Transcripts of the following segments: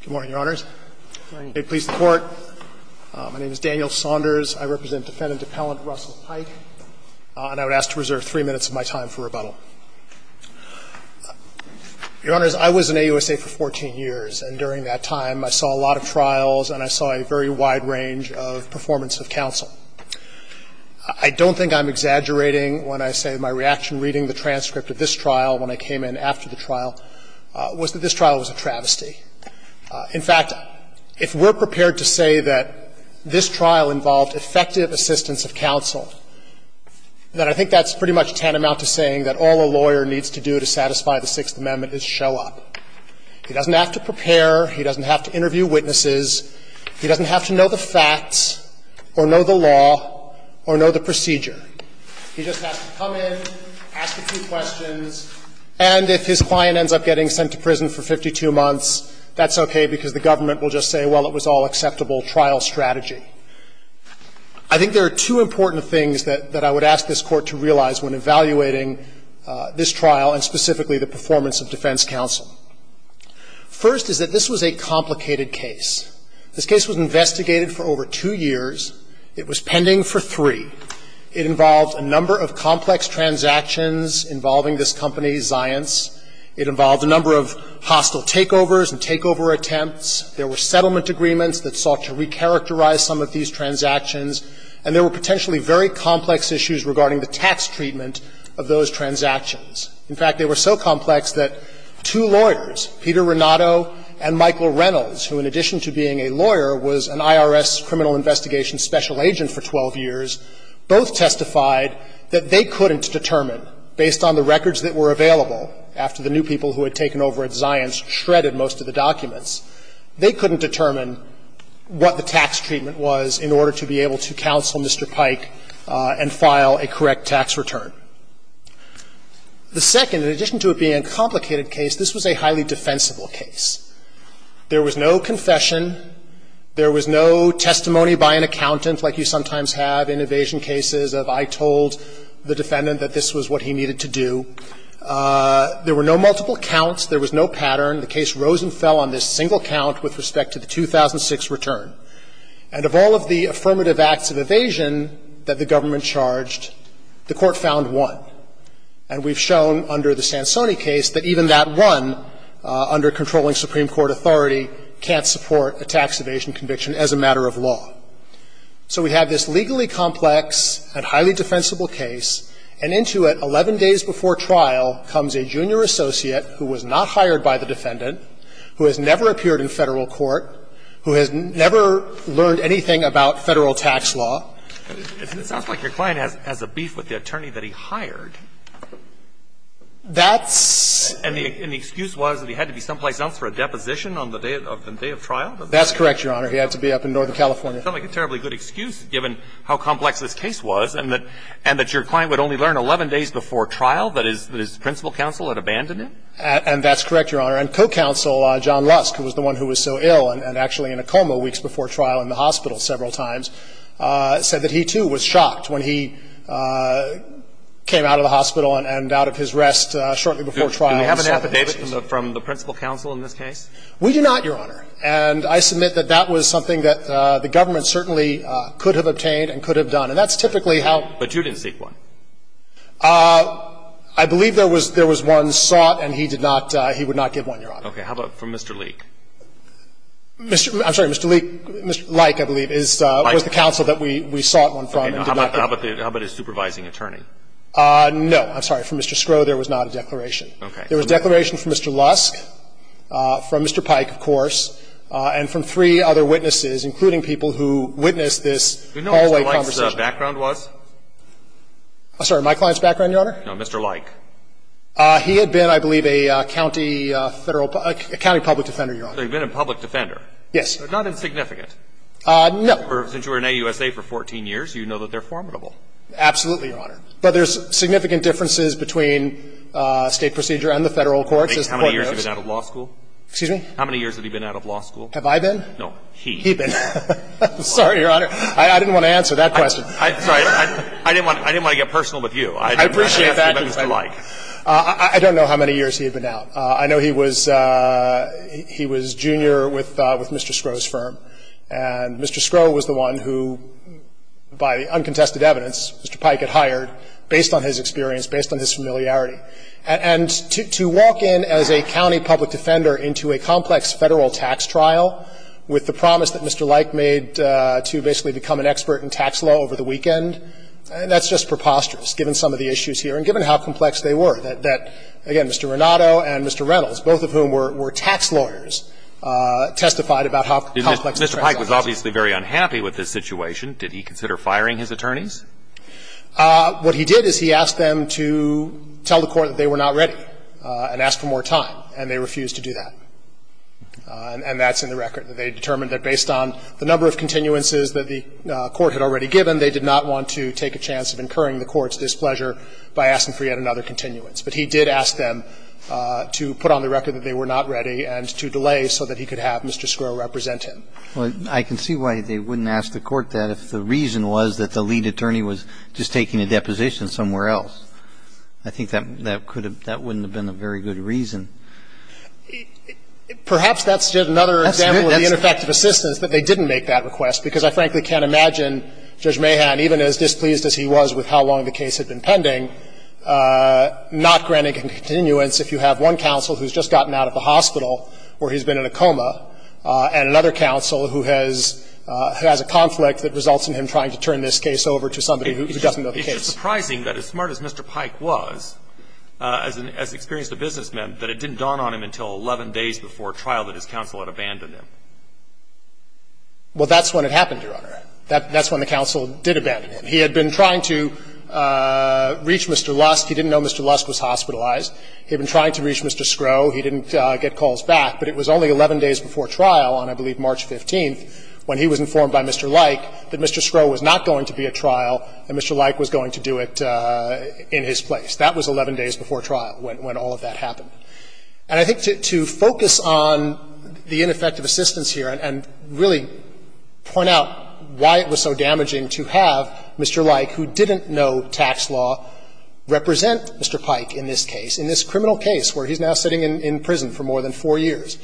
Good morning, Your Honors. May it please the Court, my name is Daniel Saunders. I represent Defendant Appellant Russell Pike, and I would ask to reserve three minutes of my time for rebuttal. Your Honors, I was in AUSA for 14 years, and during that time I saw a lot of trials and I saw a very wide range of performance of counsel. I don't think I'm exaggerating when I say my reaction reading the transcript of this trial, when I came in after the trial, was that this trial was a travesty. In fact, if we're prepared to say that this trial involved effective assistance of counsel, then I think that's pretty much tantamount to saying that all a lawyer needs to do to satisfy the Sixth Amendment is show up. He doesn't have to prepare, he doesn't have to interview witnesses, he doesn't have to know the facts or know the law or know the procedure. He just has to come in, ask a few questions, and if his client ends up getting sent to prison for 52 months, that's okay because the government will just say, well, it was all acceptable trial strategy. I think there are two important things that I would ask this Court to realize when evaluating this trial and specifically the performance of defense counsel. First is that this was a complicated case. This case was investigated for over two years. It was pending for three. It involved a number of complex transactions involving this company, Zions. It involved a number of hostile takeovers and takeover attempts. There were settlement agreements that sought to recharacterize some of these transactions. And there were potentially very complex issues regarding the tax treatment of those transactions. In fact, they were so complex that two lawyers, Peter Renato and Michael Reynolds, who, in addition to being a lawyer, was an IRS criminal investigation special counsel for 12 years, both testified that they couldn't determine, based on the records that were available after the new people who had taken over at Zions shredded most of the documents, they couldn't determine what the tax treatment was in order to be able to counsel Mr. Pike and file a correct tax return. The second, in addition to it being a complicated case, this was a highly defensible case. There was no confession. There was no testimony by an accountant like you sometimes have in evasion cases of I told the defendant that this was what he needed to do. There were no multiple counts. There was no pattern. The case rose and fell on this single count with respect to the 2006 return. And of all of the affirmative acts of evasion that the government charged, the Court found one. And we've shown under the Sansoni case that even that one, under controlling Supreme Court authority, can't support a tax evasion conviction as a matter of law. So we have this legally complex and highly defensible case, and into it, 11 days before trial, comes a junior associate who was not hired by the defendant, who has never appeared in Federal court, who has never learned anything about Federal tax law. And it sounds like your client has a beef with the attorney that he hired. That's And the excuse was that he had to be someplace else for a defense. Was there a deposition on the day of the day of trial? That's correct, Your Honor. He had to be up in Northern California. Sounds like a terribly good excuse, given how complex this case was, and that your client would only learn 11 days before trial, that his principal counsel had abandoned him? And that's correct, Your Honor. And co-counsel John Lusk, who was the one who was so ill and actually in a coma weeks before trial in the hospital several times, said that he, too, was shocked when he came out of the hospital and out of his rest shortly before trial. Do we have an affidavit from the principal counsel in this case? We do not, Your Honor. And I submit that that was something that the government certainly could have obtained and could have done. And that's typically how But you didn't seek one. I believe there was one sought, and he did not, he would not give one, Your Honor. Okay. How about from Mr. Leak? I'm sorry. Mr. Leak, Mr. Leik, I believe, was the counsel that we sought one from. How about his supervising attorney? No. I'm sorry. From Mr. Skrow, there was not a declaration. Okay. There was a declaration from Mr. Lusk, from Mr. Pike, of course, and from three other witnesses, including people who witnessed this hallway conversation. Do you know who Mr. Leik's background was? I'm sorry, my client's background, Your Honor? No, Mr. Leik. He had been, I believe, a county federal, a county public defender, Your Honor. So he'd been a public defender. Yes. So not insignificant. No. For, since you were in AUSA for 14 years, you know that they're formidable. Absolutely, Your Honor. But there's significant differences between State procedure and the Federal courts, as the Court notes. How many years has he been out of law school? Excuse me? How many years has he been out of law school? Have I been? No. He. He been. I'm sorry, Your Honor. I didn't want to answer that question. I'm sorry. I didn't want to get personal with you. I appreciate that. I didn't want to ask you about Mr. Leik. I don't know how many years he had been out. I know he was junior with Mr. Skrow's firm, and Mr. Skrow was the one who, by uncontested evidence, Mr. Pike had hired, based on his experience, based on his familiarity. And to walk in as a county public defender into a complex Federal tax trial with the promise that Mr. Leik made to basically become an expert in tax law over the weekend, that's just preposterous, given some of the issues here and given how complex they were, that, again, Mr. Renato and Mr. Reynolds, both of whom were tax lawyers, testified about how complex the trial was. Mr. Pike was obviously very unhappy with this situation. Did he consider firing his attorneys? What he did is he asked them to tell the Court that they were not ready and ask for more time, and they refused to do that. And that's in the record. They determined that based on the number of continuances that the Court had already given, they did not want to take a chance of incurring the Court's displeasure by asking for yet another continuance. But he did ask them to put on the record that they were not ready and to delay so that he could have Mr. Skrow represent him. But I can see why they wouldn't ask the Court that if the reason was that the lead attorney was just taking a deposition somewhere else. I think that could have been a very good reason. Perhaps that's just another example of the ineffective assistance, that they didn't make that request, because I frankly can't imagine Judge Mahan, even as displeased as he was with how long the case had been pending, not granting a continuance if you have one counsel who's just gotten out of the hospital where he's been in a coma and another counsel who has a conflict that results in him trying to turn this case over to somebody who doesn't know the case. It's just surprising that as smart as Mr. Pike was, as experienced a businessman, that it didn't dawn on him until 11 days before trial that his counsel had abandoned him. Well, that's when it happened, Your Honor. That's when the counsel did abandon him. He had been trying to reach Mr. Lust. He didn't know Mr. Lust was hospitalized. He had been trying to reach Mr. Skrow. He didn't get calls back. But it was only 11 days before trial on, I believe, March 15th when he was informed by Mr. Lyke that Mr. Skrow was not going to be at trial and Mr. Lyke was going to do it in his place. That was 11 days before trial when all of that happened. And I think to focus on the ineffective assistance here and really point out why it was so damaging to have Mr. Lyke, who didn't know tax law, represent Mr. Pike in this case, in this criminal case where he's now sitting in prison for more than four years,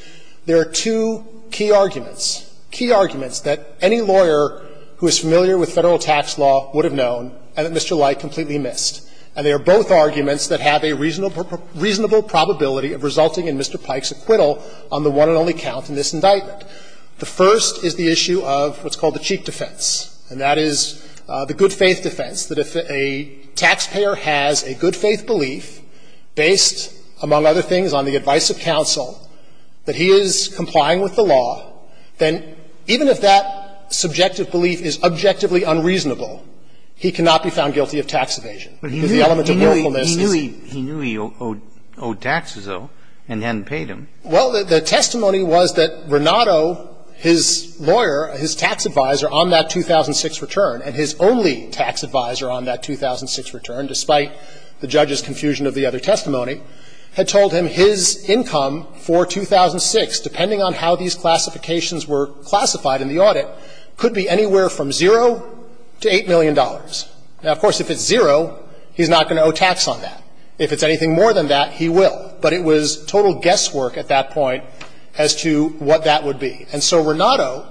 there are two key arguments, key arguments that any lawyer who is familiar with Federal tax law would have known and that Mr. Lyke completely missed, and they are both arguments that have a reasonable probability of resulting in Mr. Pike's acquittal on the one and only count in this indictment. The first is the issue of what's called the cheap defense, and that is the good faith belief, based, among other things, on the advice of counsel, that he is complying with the law, then even if that subjective belief is objectively unreasonable, he cannot be found guilty of tax evasion. Because the element of willfulness is he knew he owed taxes, though, and hadn't paid them. Well, the testimony was that Renato, his lawyer, his tax advisor on that 2006 return, and his only tax advisor on that 2006 return, despite the judge's confusion of the other testimony, had told him his income for 2006, depending on how these classifications were classified in the audit, could be anywhere from zero to $8 million. Now, of course, if it's zero, he's not going to owe tax on that. If it's anything more than that, he will. But it was total guesswork at that point as to what that would be. And so Renato,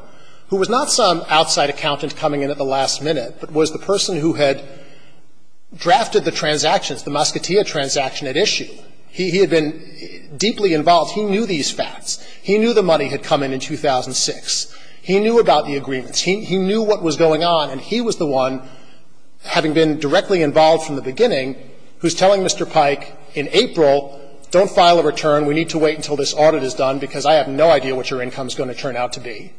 who was not some outside accountant coming in at the last minute, but was the person who had drafted the transactions, the Moscatia transaction at issue, he had been deeply involved. He knew these facts. He knew the money had come in in 2006. He knew about the agreements. He knew what was going on, and he was the one, having been directly involved from the beginning, who's telling Mr. Pike in April, don't file a return. We need to wait until this audit is done, because I have no idea what your income is going to turn out to be.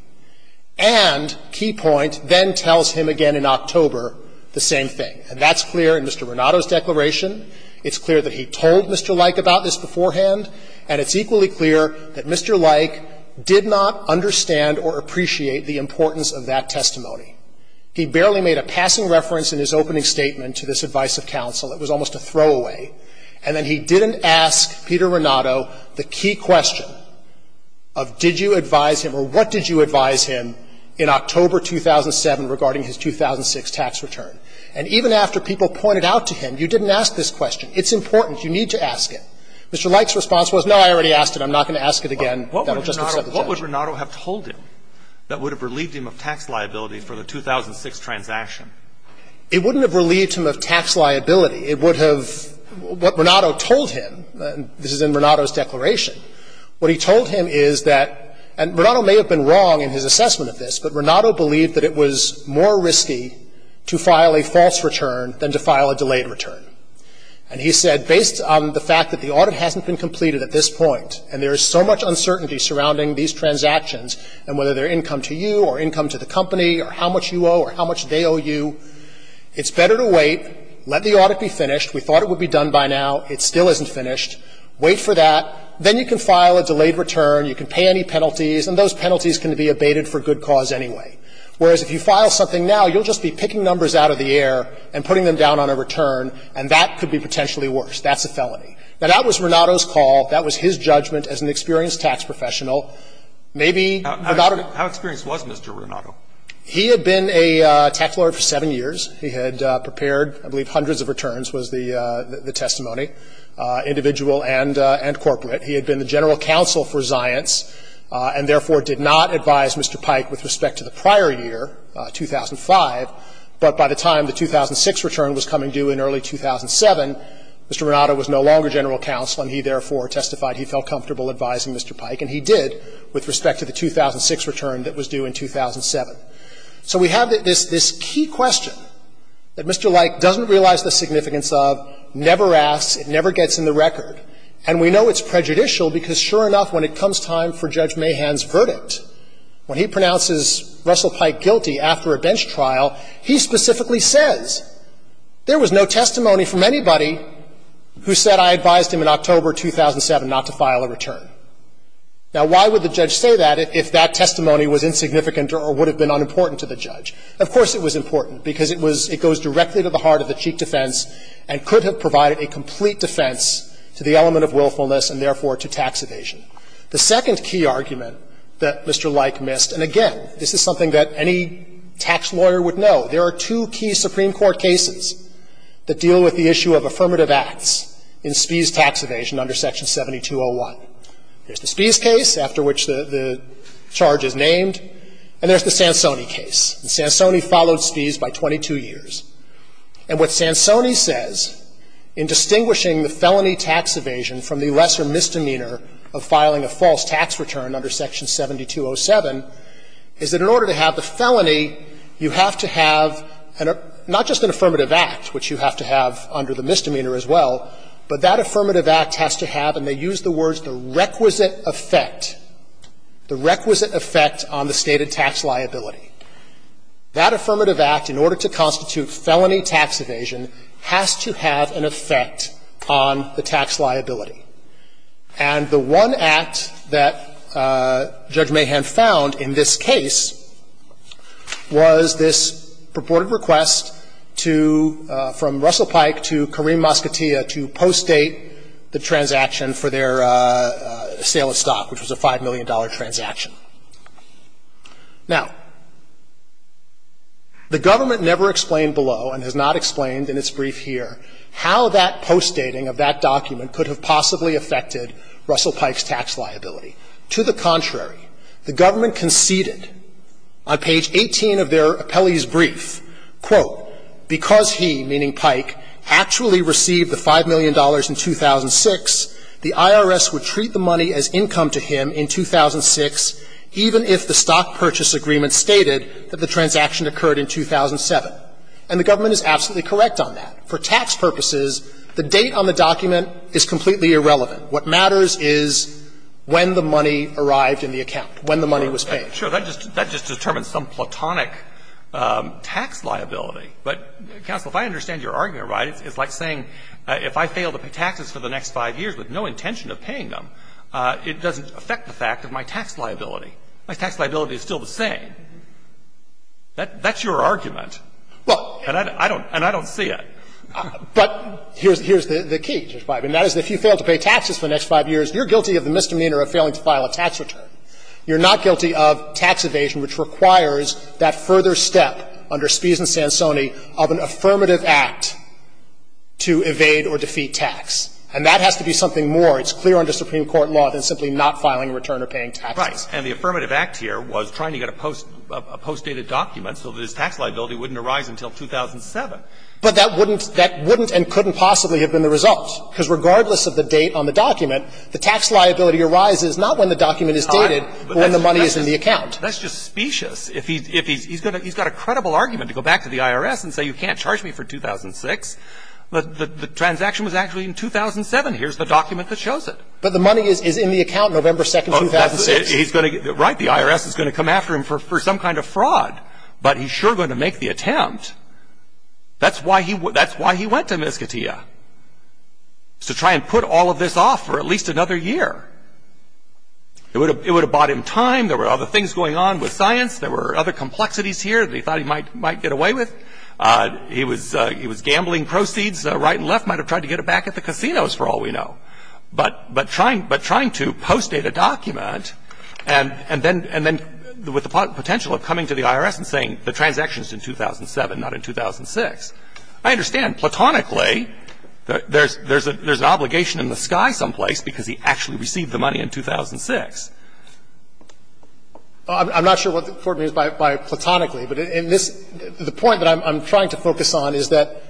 And, key point, then tells him again in October the same thing. And that's clear in Mr. Renato's declaration. It's clear that he told Mr. Leik about this beforehand, and it's equally clear that Mr. Leik did not understand or appreciate the importance of that testimony. He barely made a passing reference in his opening statement to this advice of counsel. It was almost a throwaway. And then he didn't ask Peter Renato the key question of did you advise him or what did you advise him in October 2007 regarding his 2006 tax return. And even after people pointed out to him, you didn't ask this question. It's important. You need to ask it. Mr. Leik's response was, no, I already asked it. I'm not going to ask it again. That will just accept the charge. Alito What would Renato have told him that would have relieved him of tax liability for the 2006 transaction? It wouldn't have relieved him of tax liability. It would have, what Renato told him, this is in Renato's declaration, what he told him is that, and Renato may have been wrong in his assessment of this, but Renato believed that it was more risky to file a false return than to file a delayed return. And he said, based on the fact that the audit hasn't been completed at this point and there is so much uncertainty surrounding these transactions and whether they're income to you or income to the company or how much you owe or how much they owe you, it's better to wait, let the audit be finished. We thought it would be done by now. It still isn't finished. Wait for that. Then you can file a delayed return. You can pay any penalties, and those penalties can be abated for good cause anyway. Whereas if you file something now, you'll just be picking numbers out of the air and putting them down on a return, and that could be potentially worse. That's a felony. Now, that was Renato's call. That was his judgment as an experienced tax professional. Maybe Renato — How experienced was Mr. Renato? He had been a tax lawyer for seven years. He had prepared, I believe, hundreds of returns was the testimony, individual and corporate. He had been the general counsel for Zions and therefore did not advise Mr. Pike with respect to the prior year, 2005. But by the time the 2006 return was coming due in early 2007, Mr. Renato was no longer general counsel, and he therefore testified he felt comfortable advising Mr. Pike. And he did with respect to the 2006 return that was due in 2007. So we have this key question that Mr. Leick doesn't realize the significance of, never asks, it never gets in the record. And we know it's prejudicial because, sure enough, when it comes time for Judge Mahan's verdict, when he pronounces Russell Pike guilty after a bench trial, he specifically says, there was no testimony from anybody who said I advised him in October 2007 not to file a return. Now, why would the judge say that if that testimony was insignificant or would have been unimportant to the judge? Of course it was important because it was – it goes directly to the heart of the cheek defense and could have provided a complete defense to the element of willfulness and therefore to tax evasion. The second key argument that Mr. Leick missed, and again, this is something that any tax lawyer would know. There are two key Supreme Court cases that deal with the issue of affirmative acts in Spies tax evasion under Section 7201. There's the Spies case, after which the charge is named, and there's the Sansoni case. And Sansoni followed Spies by 22 years. And what Sansoni says in distinguishing the felony tax evasion from the lesser misdemeanor of filing a false tax return under Section 7207 is that in order to have the felony, you have to have not just an affirmative act, which you have to have under the misdemeanor as well, but that affirmative act has to have, and they use the words, the requisite effect, the requisite effect on the stated tax liability. That affirmative act, in order to constitute felony tax evasion, has to have an effect on the tax liability. And the one act that Judge Mahan found in this case was this purported request to, from Russell Pike to Kareem Mosquettea to postdate the transaction for their sale of stock, which was a $5 million transaction. Now, the government never explained below and has not explained in its brief here how that postdating of that document could have possibly affected Russell Pike's tax liability. To the contrary, the government conceded on page 18 of their appellee's brief, quote, because he, meaning Pike, actually received the $5 million in 2006, the IRS would treat the money as income to him in 2006, even if the stock purchase agreement stated that the transaction occurred in 2007. And the government is absolutely correct on that. For tax purposes, the date on the document is completely irrelevant. What matters is when the money arrived in the account, when the money was paid. I mean, it's like, sure, that just determines some platonic tax liability. But, counsel, if I understand your argument right, it's like saying if I fail to pay taxes for the next 5 years with no intention of paying them, it doesn't affect the fact of my tax liability. My tax liability is still the same. That's your argument. And I don't see it. But here's the key, Judge Breyer, and that is if you fail to pay taxes for the next 5 years, you're guilty of the misdemeanor of failing to file a tax return. You're not guilty of tax evasion, which requires that further step under Spies and Sansoni of an affirmative act to evade or defeat tax. And that has to be something more. It's clear under Supreme Court law than simply not filing a return or paying taxes. Right. And the affirmative act here was trying to get a postdated document so that his tax liability wouldn't arise until 2007. But that wouldn't and couldn't possibly have been the result, because regardless of the date on the document, the tax liability arises not when the document is dated, but when the money is in the account. That's just specious. If he's got a credible argument to go back to the IRS and say, you can't charge me for 2006, but the transaction was actually in 2007. Here's the document that shows it. But the money is in the account November 2, 2006. Right. The IRS is going to come after him for some kind of fraud, but he's sure going to make the attempt. That's why he went to Miskatia, is to try and put all of this off for at least another year. It would have bought him time. There were other things going on with science. There were other complexities here that he thought he might get away with. He was gambling proceeds right and left, might have tried to get it back at the casinos for all we know. But trying to postdate a document and then with the potential of coming to the IRS and saying the transaction is in 2007, not in 2006, I understand platonically that there's an obligation in the sky someplace because he actually received the money in 2006. I'm not sure what the court means by platonically, but in this the point that I'm trying to focus on is that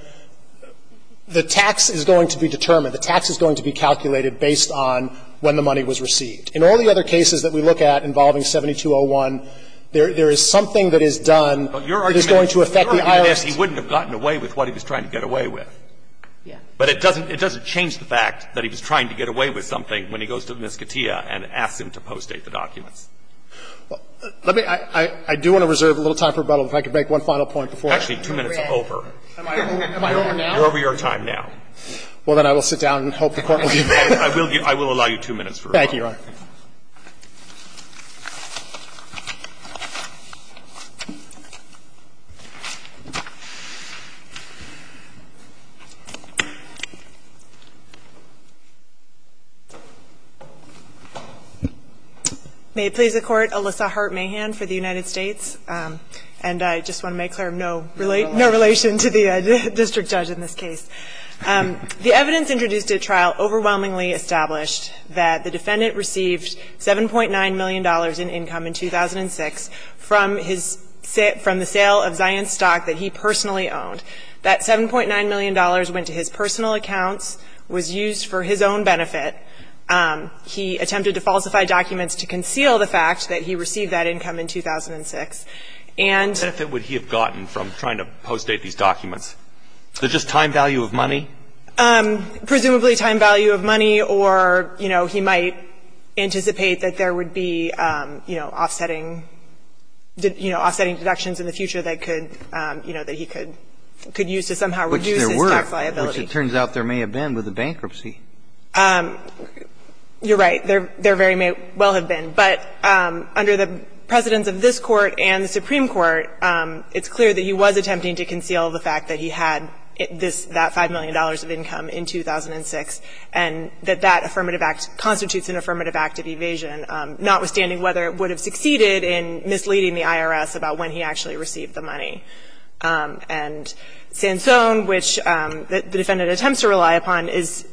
the tax is going to be determined. The tax is going to be calculated based on when the money was received. In all the other cases that we look at involving 7201, there is something that is done that is going to affect the IRS. But your argument is he wouldn't have gotten away with what he was trying to get away with. Yeah. But it doesn't change the fact that he was trying to get away with something when he goes to the Mesquitea and asks him to postdate the documents. Let me – I do want to reserve a little time for rebuttal, if I could make one final point before I go. Actually, two minutes over. Am I over now? You're over your time now. Well, then I will sit down and hope the Court will give me a break. I will allow you two minutes for rebuttal. Thank you, Your Honor. May it please the Court, Alyssa Hart-Mahan for the United States. And I just want to make clear, no relation to the district judge in this case. The evidence introduced at trial overwhelmingly established that the defendant received $7.9 million in income in 2006 from his – from the sale of Zions stock that he personally owned. That $7.9 million went to his personal accounts, was used for his own benefit. He attempted to falsify documents to conceal the fact that he received that income in 2006. And – What benefit would he have gotten from trying to postdate these documents? Just time value of money? Presumably time value of money or, you know, he might anticipate that there would be, you know, offsetting – you know, offsetting deductions in the future that could – you know, that he could use to somehow reduce his tax liability. Which there were, which it turns out there may have been with the bankruptcy. You're right. There very may well have been. But under the precedence of this Court and the Supreme Court, it's clear that he was And that that affirmative act constitutes an affirmative act of evasion, notwithstanding whether it would have succeeded in misleading the IRS about when he actually received the money. And Sansone, which the defendant attempts to rely upon, is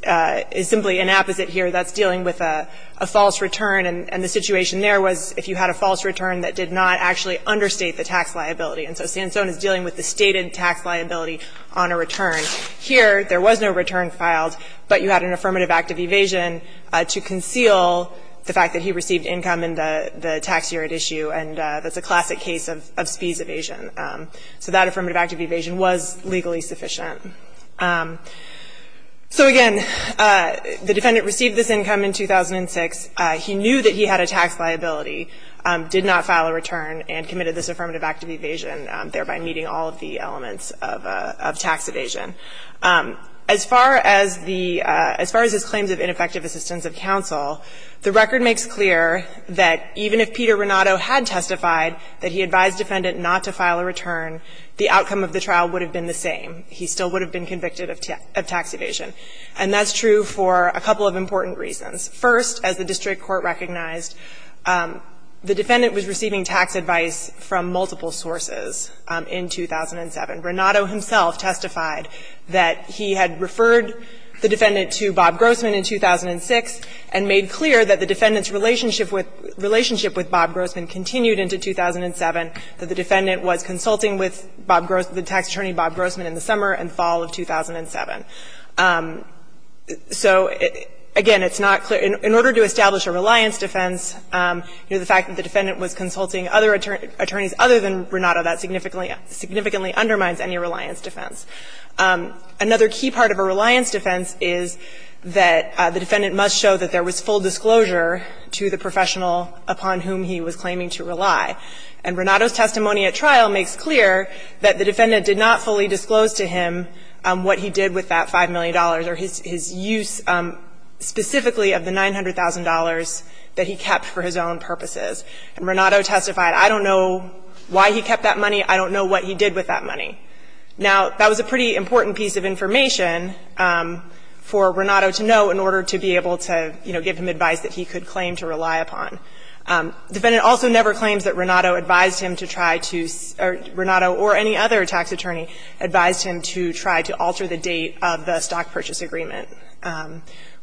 simply an apposite here that's dealing with a false return. And the situation there was if you had a false return that did not actually understate the tax liability. And so Sansone is dealing with the stated tax liability on a return. Here, there was no return filed, but you had an affirmative act of evasion to conceal the fact that he received income in the tax year at issue. And that's a classic case of spees evasion. So that affirmative act of evasion was legally sufficient. So again, the defendant received this income in 2006. He knew that he had a tax liability, did not file a return, and committed this affirmative act of evasion, thereby meeting all of the elements of tax evasion. As far as the as far as his claims of ineffective assistance of counsel, the record makes clear that even if Peter Renato had testified that he advised the defendant not to file a return, the outcome of the trial would have been the same. He still would have been convicted of tax evasion. And that's true for a couple of important reasons. First, as the district court recognized, the defendant was receiving tax advice from multiple sources in 2007. Renato himself testified that he had referred the defendant to Bob Grossman in 2006 and made clear that the defendant's relationship with Bob Grossman continued into 2007, that the defendant was consulting with Bob Grossman, the tax attorney Bob Grossman, in the summer and fall of 2007. So again, it's not clear. In order to establish a reliance defense, the fact that the defendant was consulting other attorneys other than Renato, that significantly undermines any reliance defense. Another key part of a reliance defense is that the defendant must show that there was full disclosure to the professional upon whom he was claiming to rely. And Renato's testimony at trial makes clear that the defendant did not fully disclose to him what he did with that $5 million or his use specifically of the $900,000 that he kept for his own purposes. And Renato testified, I don't know why he kept that money, I don't know what he did with that money. Now, that was a pretty important piece of information for Renato to know in order to be able to, you know, give him advice that he could claim to rely upon. The defendant also never claims that Renato advised him to try to or Renato or any other tax attorney advised him to try to alter the date of the stock purchase agreement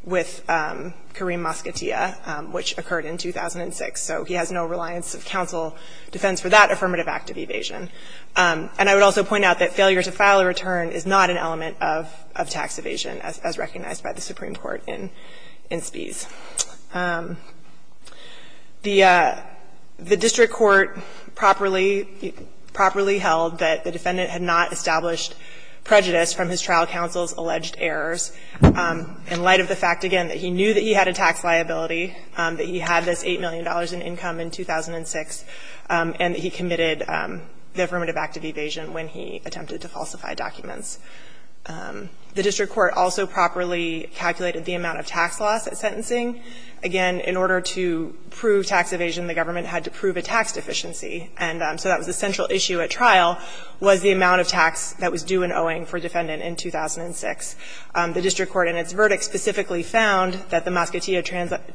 with Kareem Moskatiya, which occurred in 2006. So he has no reliance of counsel defense for that affirmative act of evasion. And I would also point out that failure to file a return is not an element of tax evasion as recognized by the Supreme Court in Spies. The district court properly held that the defendant had not established prejudice from his trial counsel's alleged errors in light of the fact, again, that he knew that he had a tax liability, that he had this $8 million in income in 2006, and that he committed the affirmative act of evasion when he attempted to falsify documents. The district court also properly calculated the amount of tax loss at sentencing. Again, in order to prove tax evasion, the government had to prove a tax deficiency. And so that was a central issue at trial, was the amount of tax that was due and owing for a defendant in 2006. The district court in its verdict specifically found that the Moskatiya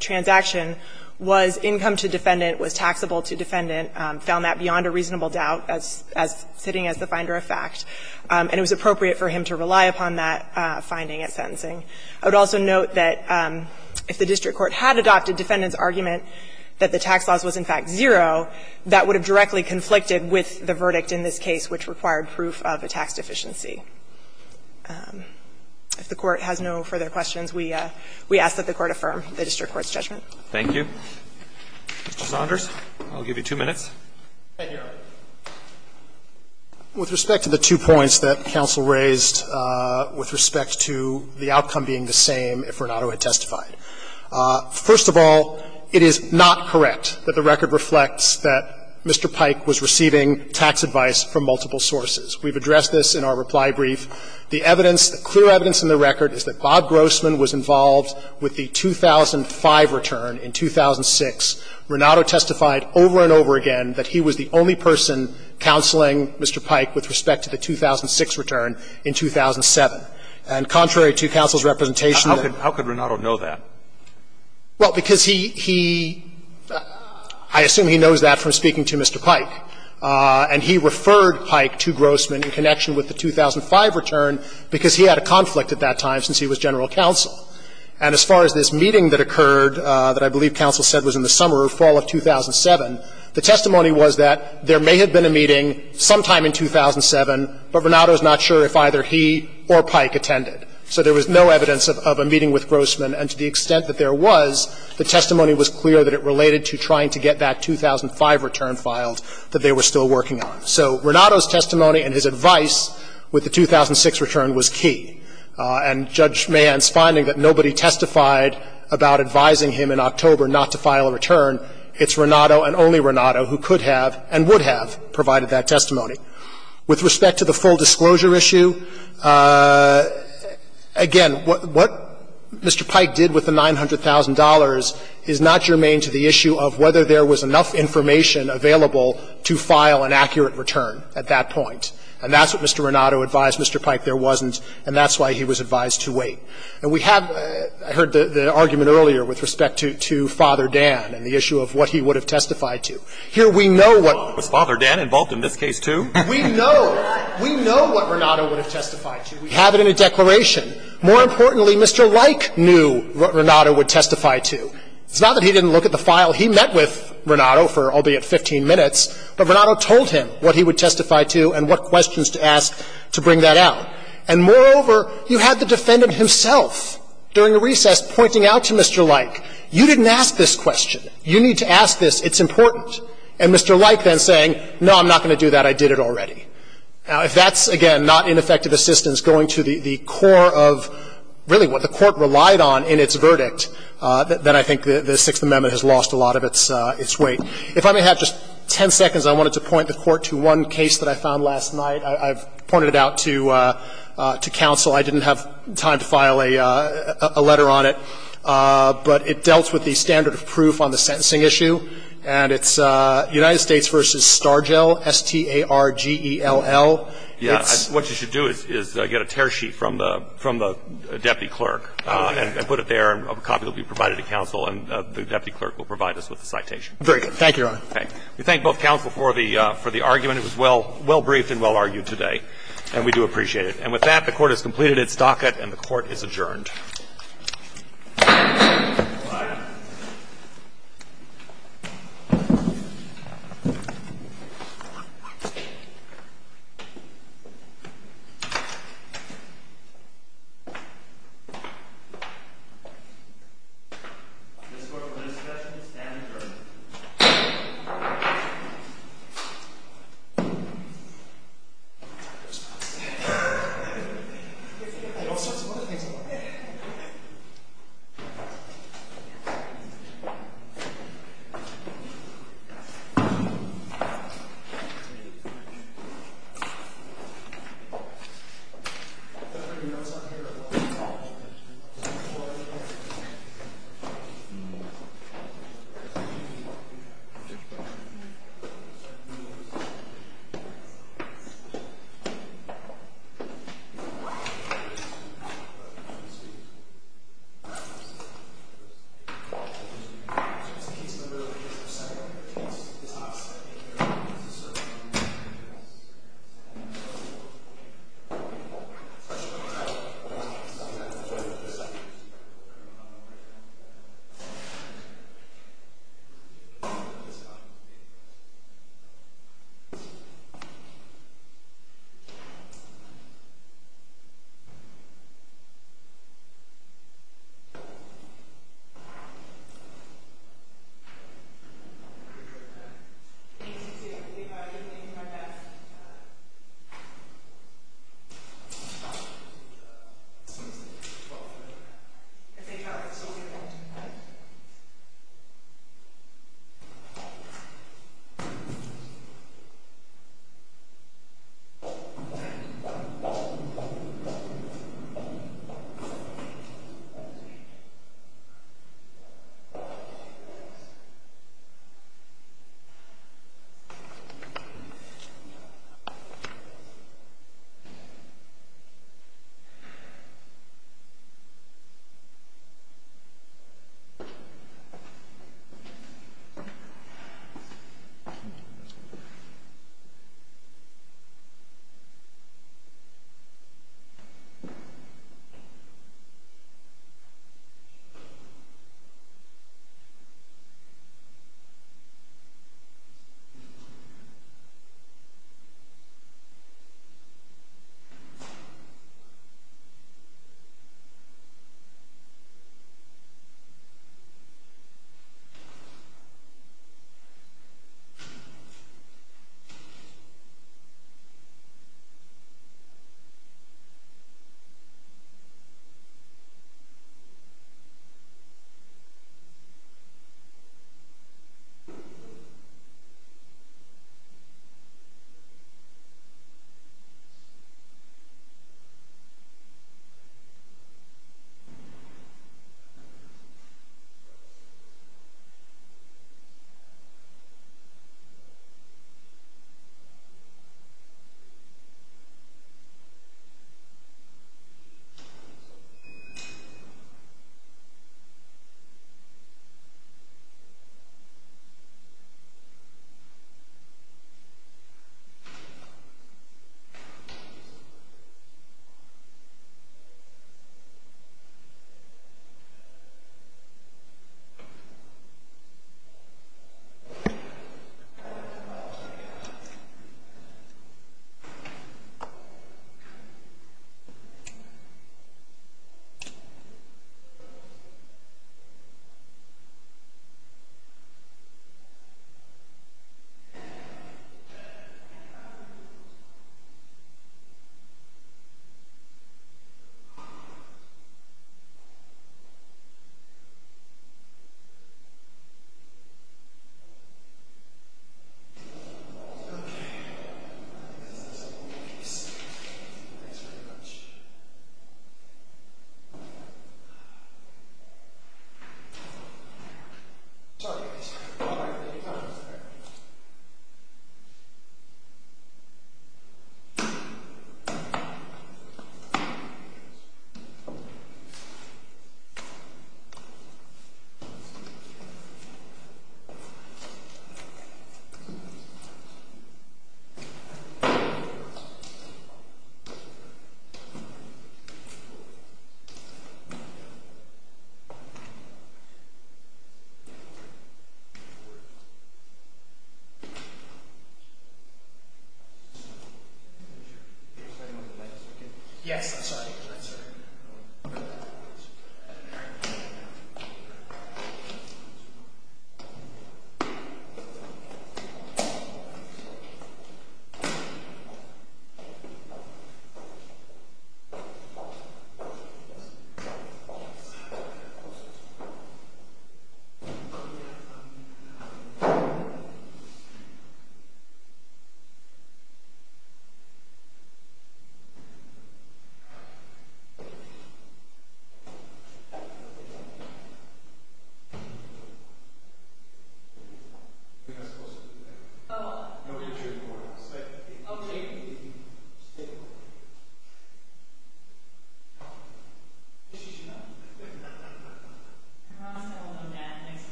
transaction was income to defendant, was taxable to defendant, found that beyond a reasonable doubt as sitting as the finder of fact. And it was appropriate for him to rely upon that finding at sentencing. I would also note that if the district court had adopted defendant's argument that the tax loss was in fact zero, that would have directly conflicted with the verdict in this case, which required proof of a tax deficiency. If the Court has no further questions, we ask that the Court affirm the district court's judgment. Roberts. Thank you. Mr. Saunders, I'll give you two minutes. Thank you, Your Honor. With respect to the two points that counsel raised, with respect to the outcome being the same if Renato had testified, first of all, it is not correct that the record reflects that Mr. Pike was receiving tax advice from multiple sources. We've addressed this in our reply brief. The evidence, the clear evidence in the record is that Bob Grossman was involved with the 2005 return. In 2006, Renato testified over and over again that he was the only person counseling Mr. Pike with respect to the 2006 return in 2007. And contrary to counsel's representation that the two points were the same, it is not correct that the record reflects that Mr. Pike was receiving tax advice from multiple sources. And he referred Pike to Grossman in connection with the 2005 return because he had a conflict at that time since he was general counsel. And as far as this meeting that occurred that I believe counsel said was in the summer or fall of 2007, the testimony was that there may have been a meeting sometime in 2007, but Renato is not sure if either he or Pike attended. So there was no evidence of a meeting with Grossman. And to the extent that there was, the testimony was clear that it related to trying to get that 2005 return filed that they were still working on. So Renato's testimony and his advice with the 2006 return was key. And Judge Mann's finding that nobody testified about advising him in October not to file a return, it's Renato and only Renato who could have and would have provided that testimony. With respect to the full disclosure issue, again, what Mr. Pike did with the $900,000 is not germane to the issue of whether there was enough information available to file an accurate return at that point. And that's what Mr. Renato advised Mr. Pike there wasn't, and that's why he was advised to wait. And we have heard the argument earlier with respect to Father Dan and the issue of what he would have testified to. Here we know what Was Father Dan involved in this case, too? We know, we know what Renato would have testified to. We have it in a declaration. More importantly, Mr. Like knew what Renato would testify to. It's not that he didn't look at the file he met with Renato for, albeit, 15 minutes, but Renato told him what he would testify to and what questions to ask to bring that out. And moreover, you had the defendant himself during the recess pointing out to Mr. Like, you didn't ask this question. You need to ask this. It's important. And Mr. Like then saying, no, I'm not going to do that. I did it already. Now, if that's, again, not ineffective assistance going to the core of really what the court relied on in its verdict, then I think the Sixth Amendment has lost a lot of its weight. If I may have just 10 seconds, I wanted to point the court to one case that I found last night. I've pointed it out to counsel. I didn't have time to file a letter on it, but it dealt with the standard of proof on the sentencing issue. And it's United States v. Stargell, S-T-A-R-G-E-L-L. It's What you should do is get a tear sheet from the deputy clerk and put it there and a copy will be provided to counsel and the deputy clerk will provide us with the citation. Very good. Thank you, Your Honor. We thank both counsel for the argument. It was well briefed and well argued today, and we do appreciate it. And with that, the court has completed its docket and the court is adjourned.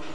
All right. This court for this session is now adjourned. It's not safe. All sorts of other things are going on. Thank you. Thank you. Thank you. Thank you. Thank you. Thank you. Thank you. Thank you very much. It's all right. It's all right. It's all right. It's all right. Yes, I'm sorry. I'm sorry. Well, no one. OK. She's, you know, Roscoe will know that. Thanks for being out there in my organization. Thank you so much. You know, um, did, did you guys do the tour of this hospital, what happened? We had a team of, a team of, a team of people who were in a care room. Oh. They were just, personal, they were in a call-in care room. The only time they let you take pictures was, um, one of those tours for the public. That's the only time. Okay. And, like, the Marshall guys over here, uh, did it. Okay. Actually, they've been willing to take cameras from people, from those boys, too. And, some people would tell me, hey, you guys are here, and we'll get it done. Just. Thank you for that. That's a pleasure to do. Okay. Have a nice afternoon. Alright. Thanks. Thanks. Thank you. The numbers, again, uh, again, uh, it's just, you know, I've been teaching a lot of people, and asking questions, and getting answers, and trying to answer some of them, and getting answers out of them. So, it's just, so, it's like, um, probably, all the time, you know, all the time, you've got to, you've got to, you've got to, you've got to, you've got to, you've got to, you've got to, you've got to, you've got to, you've got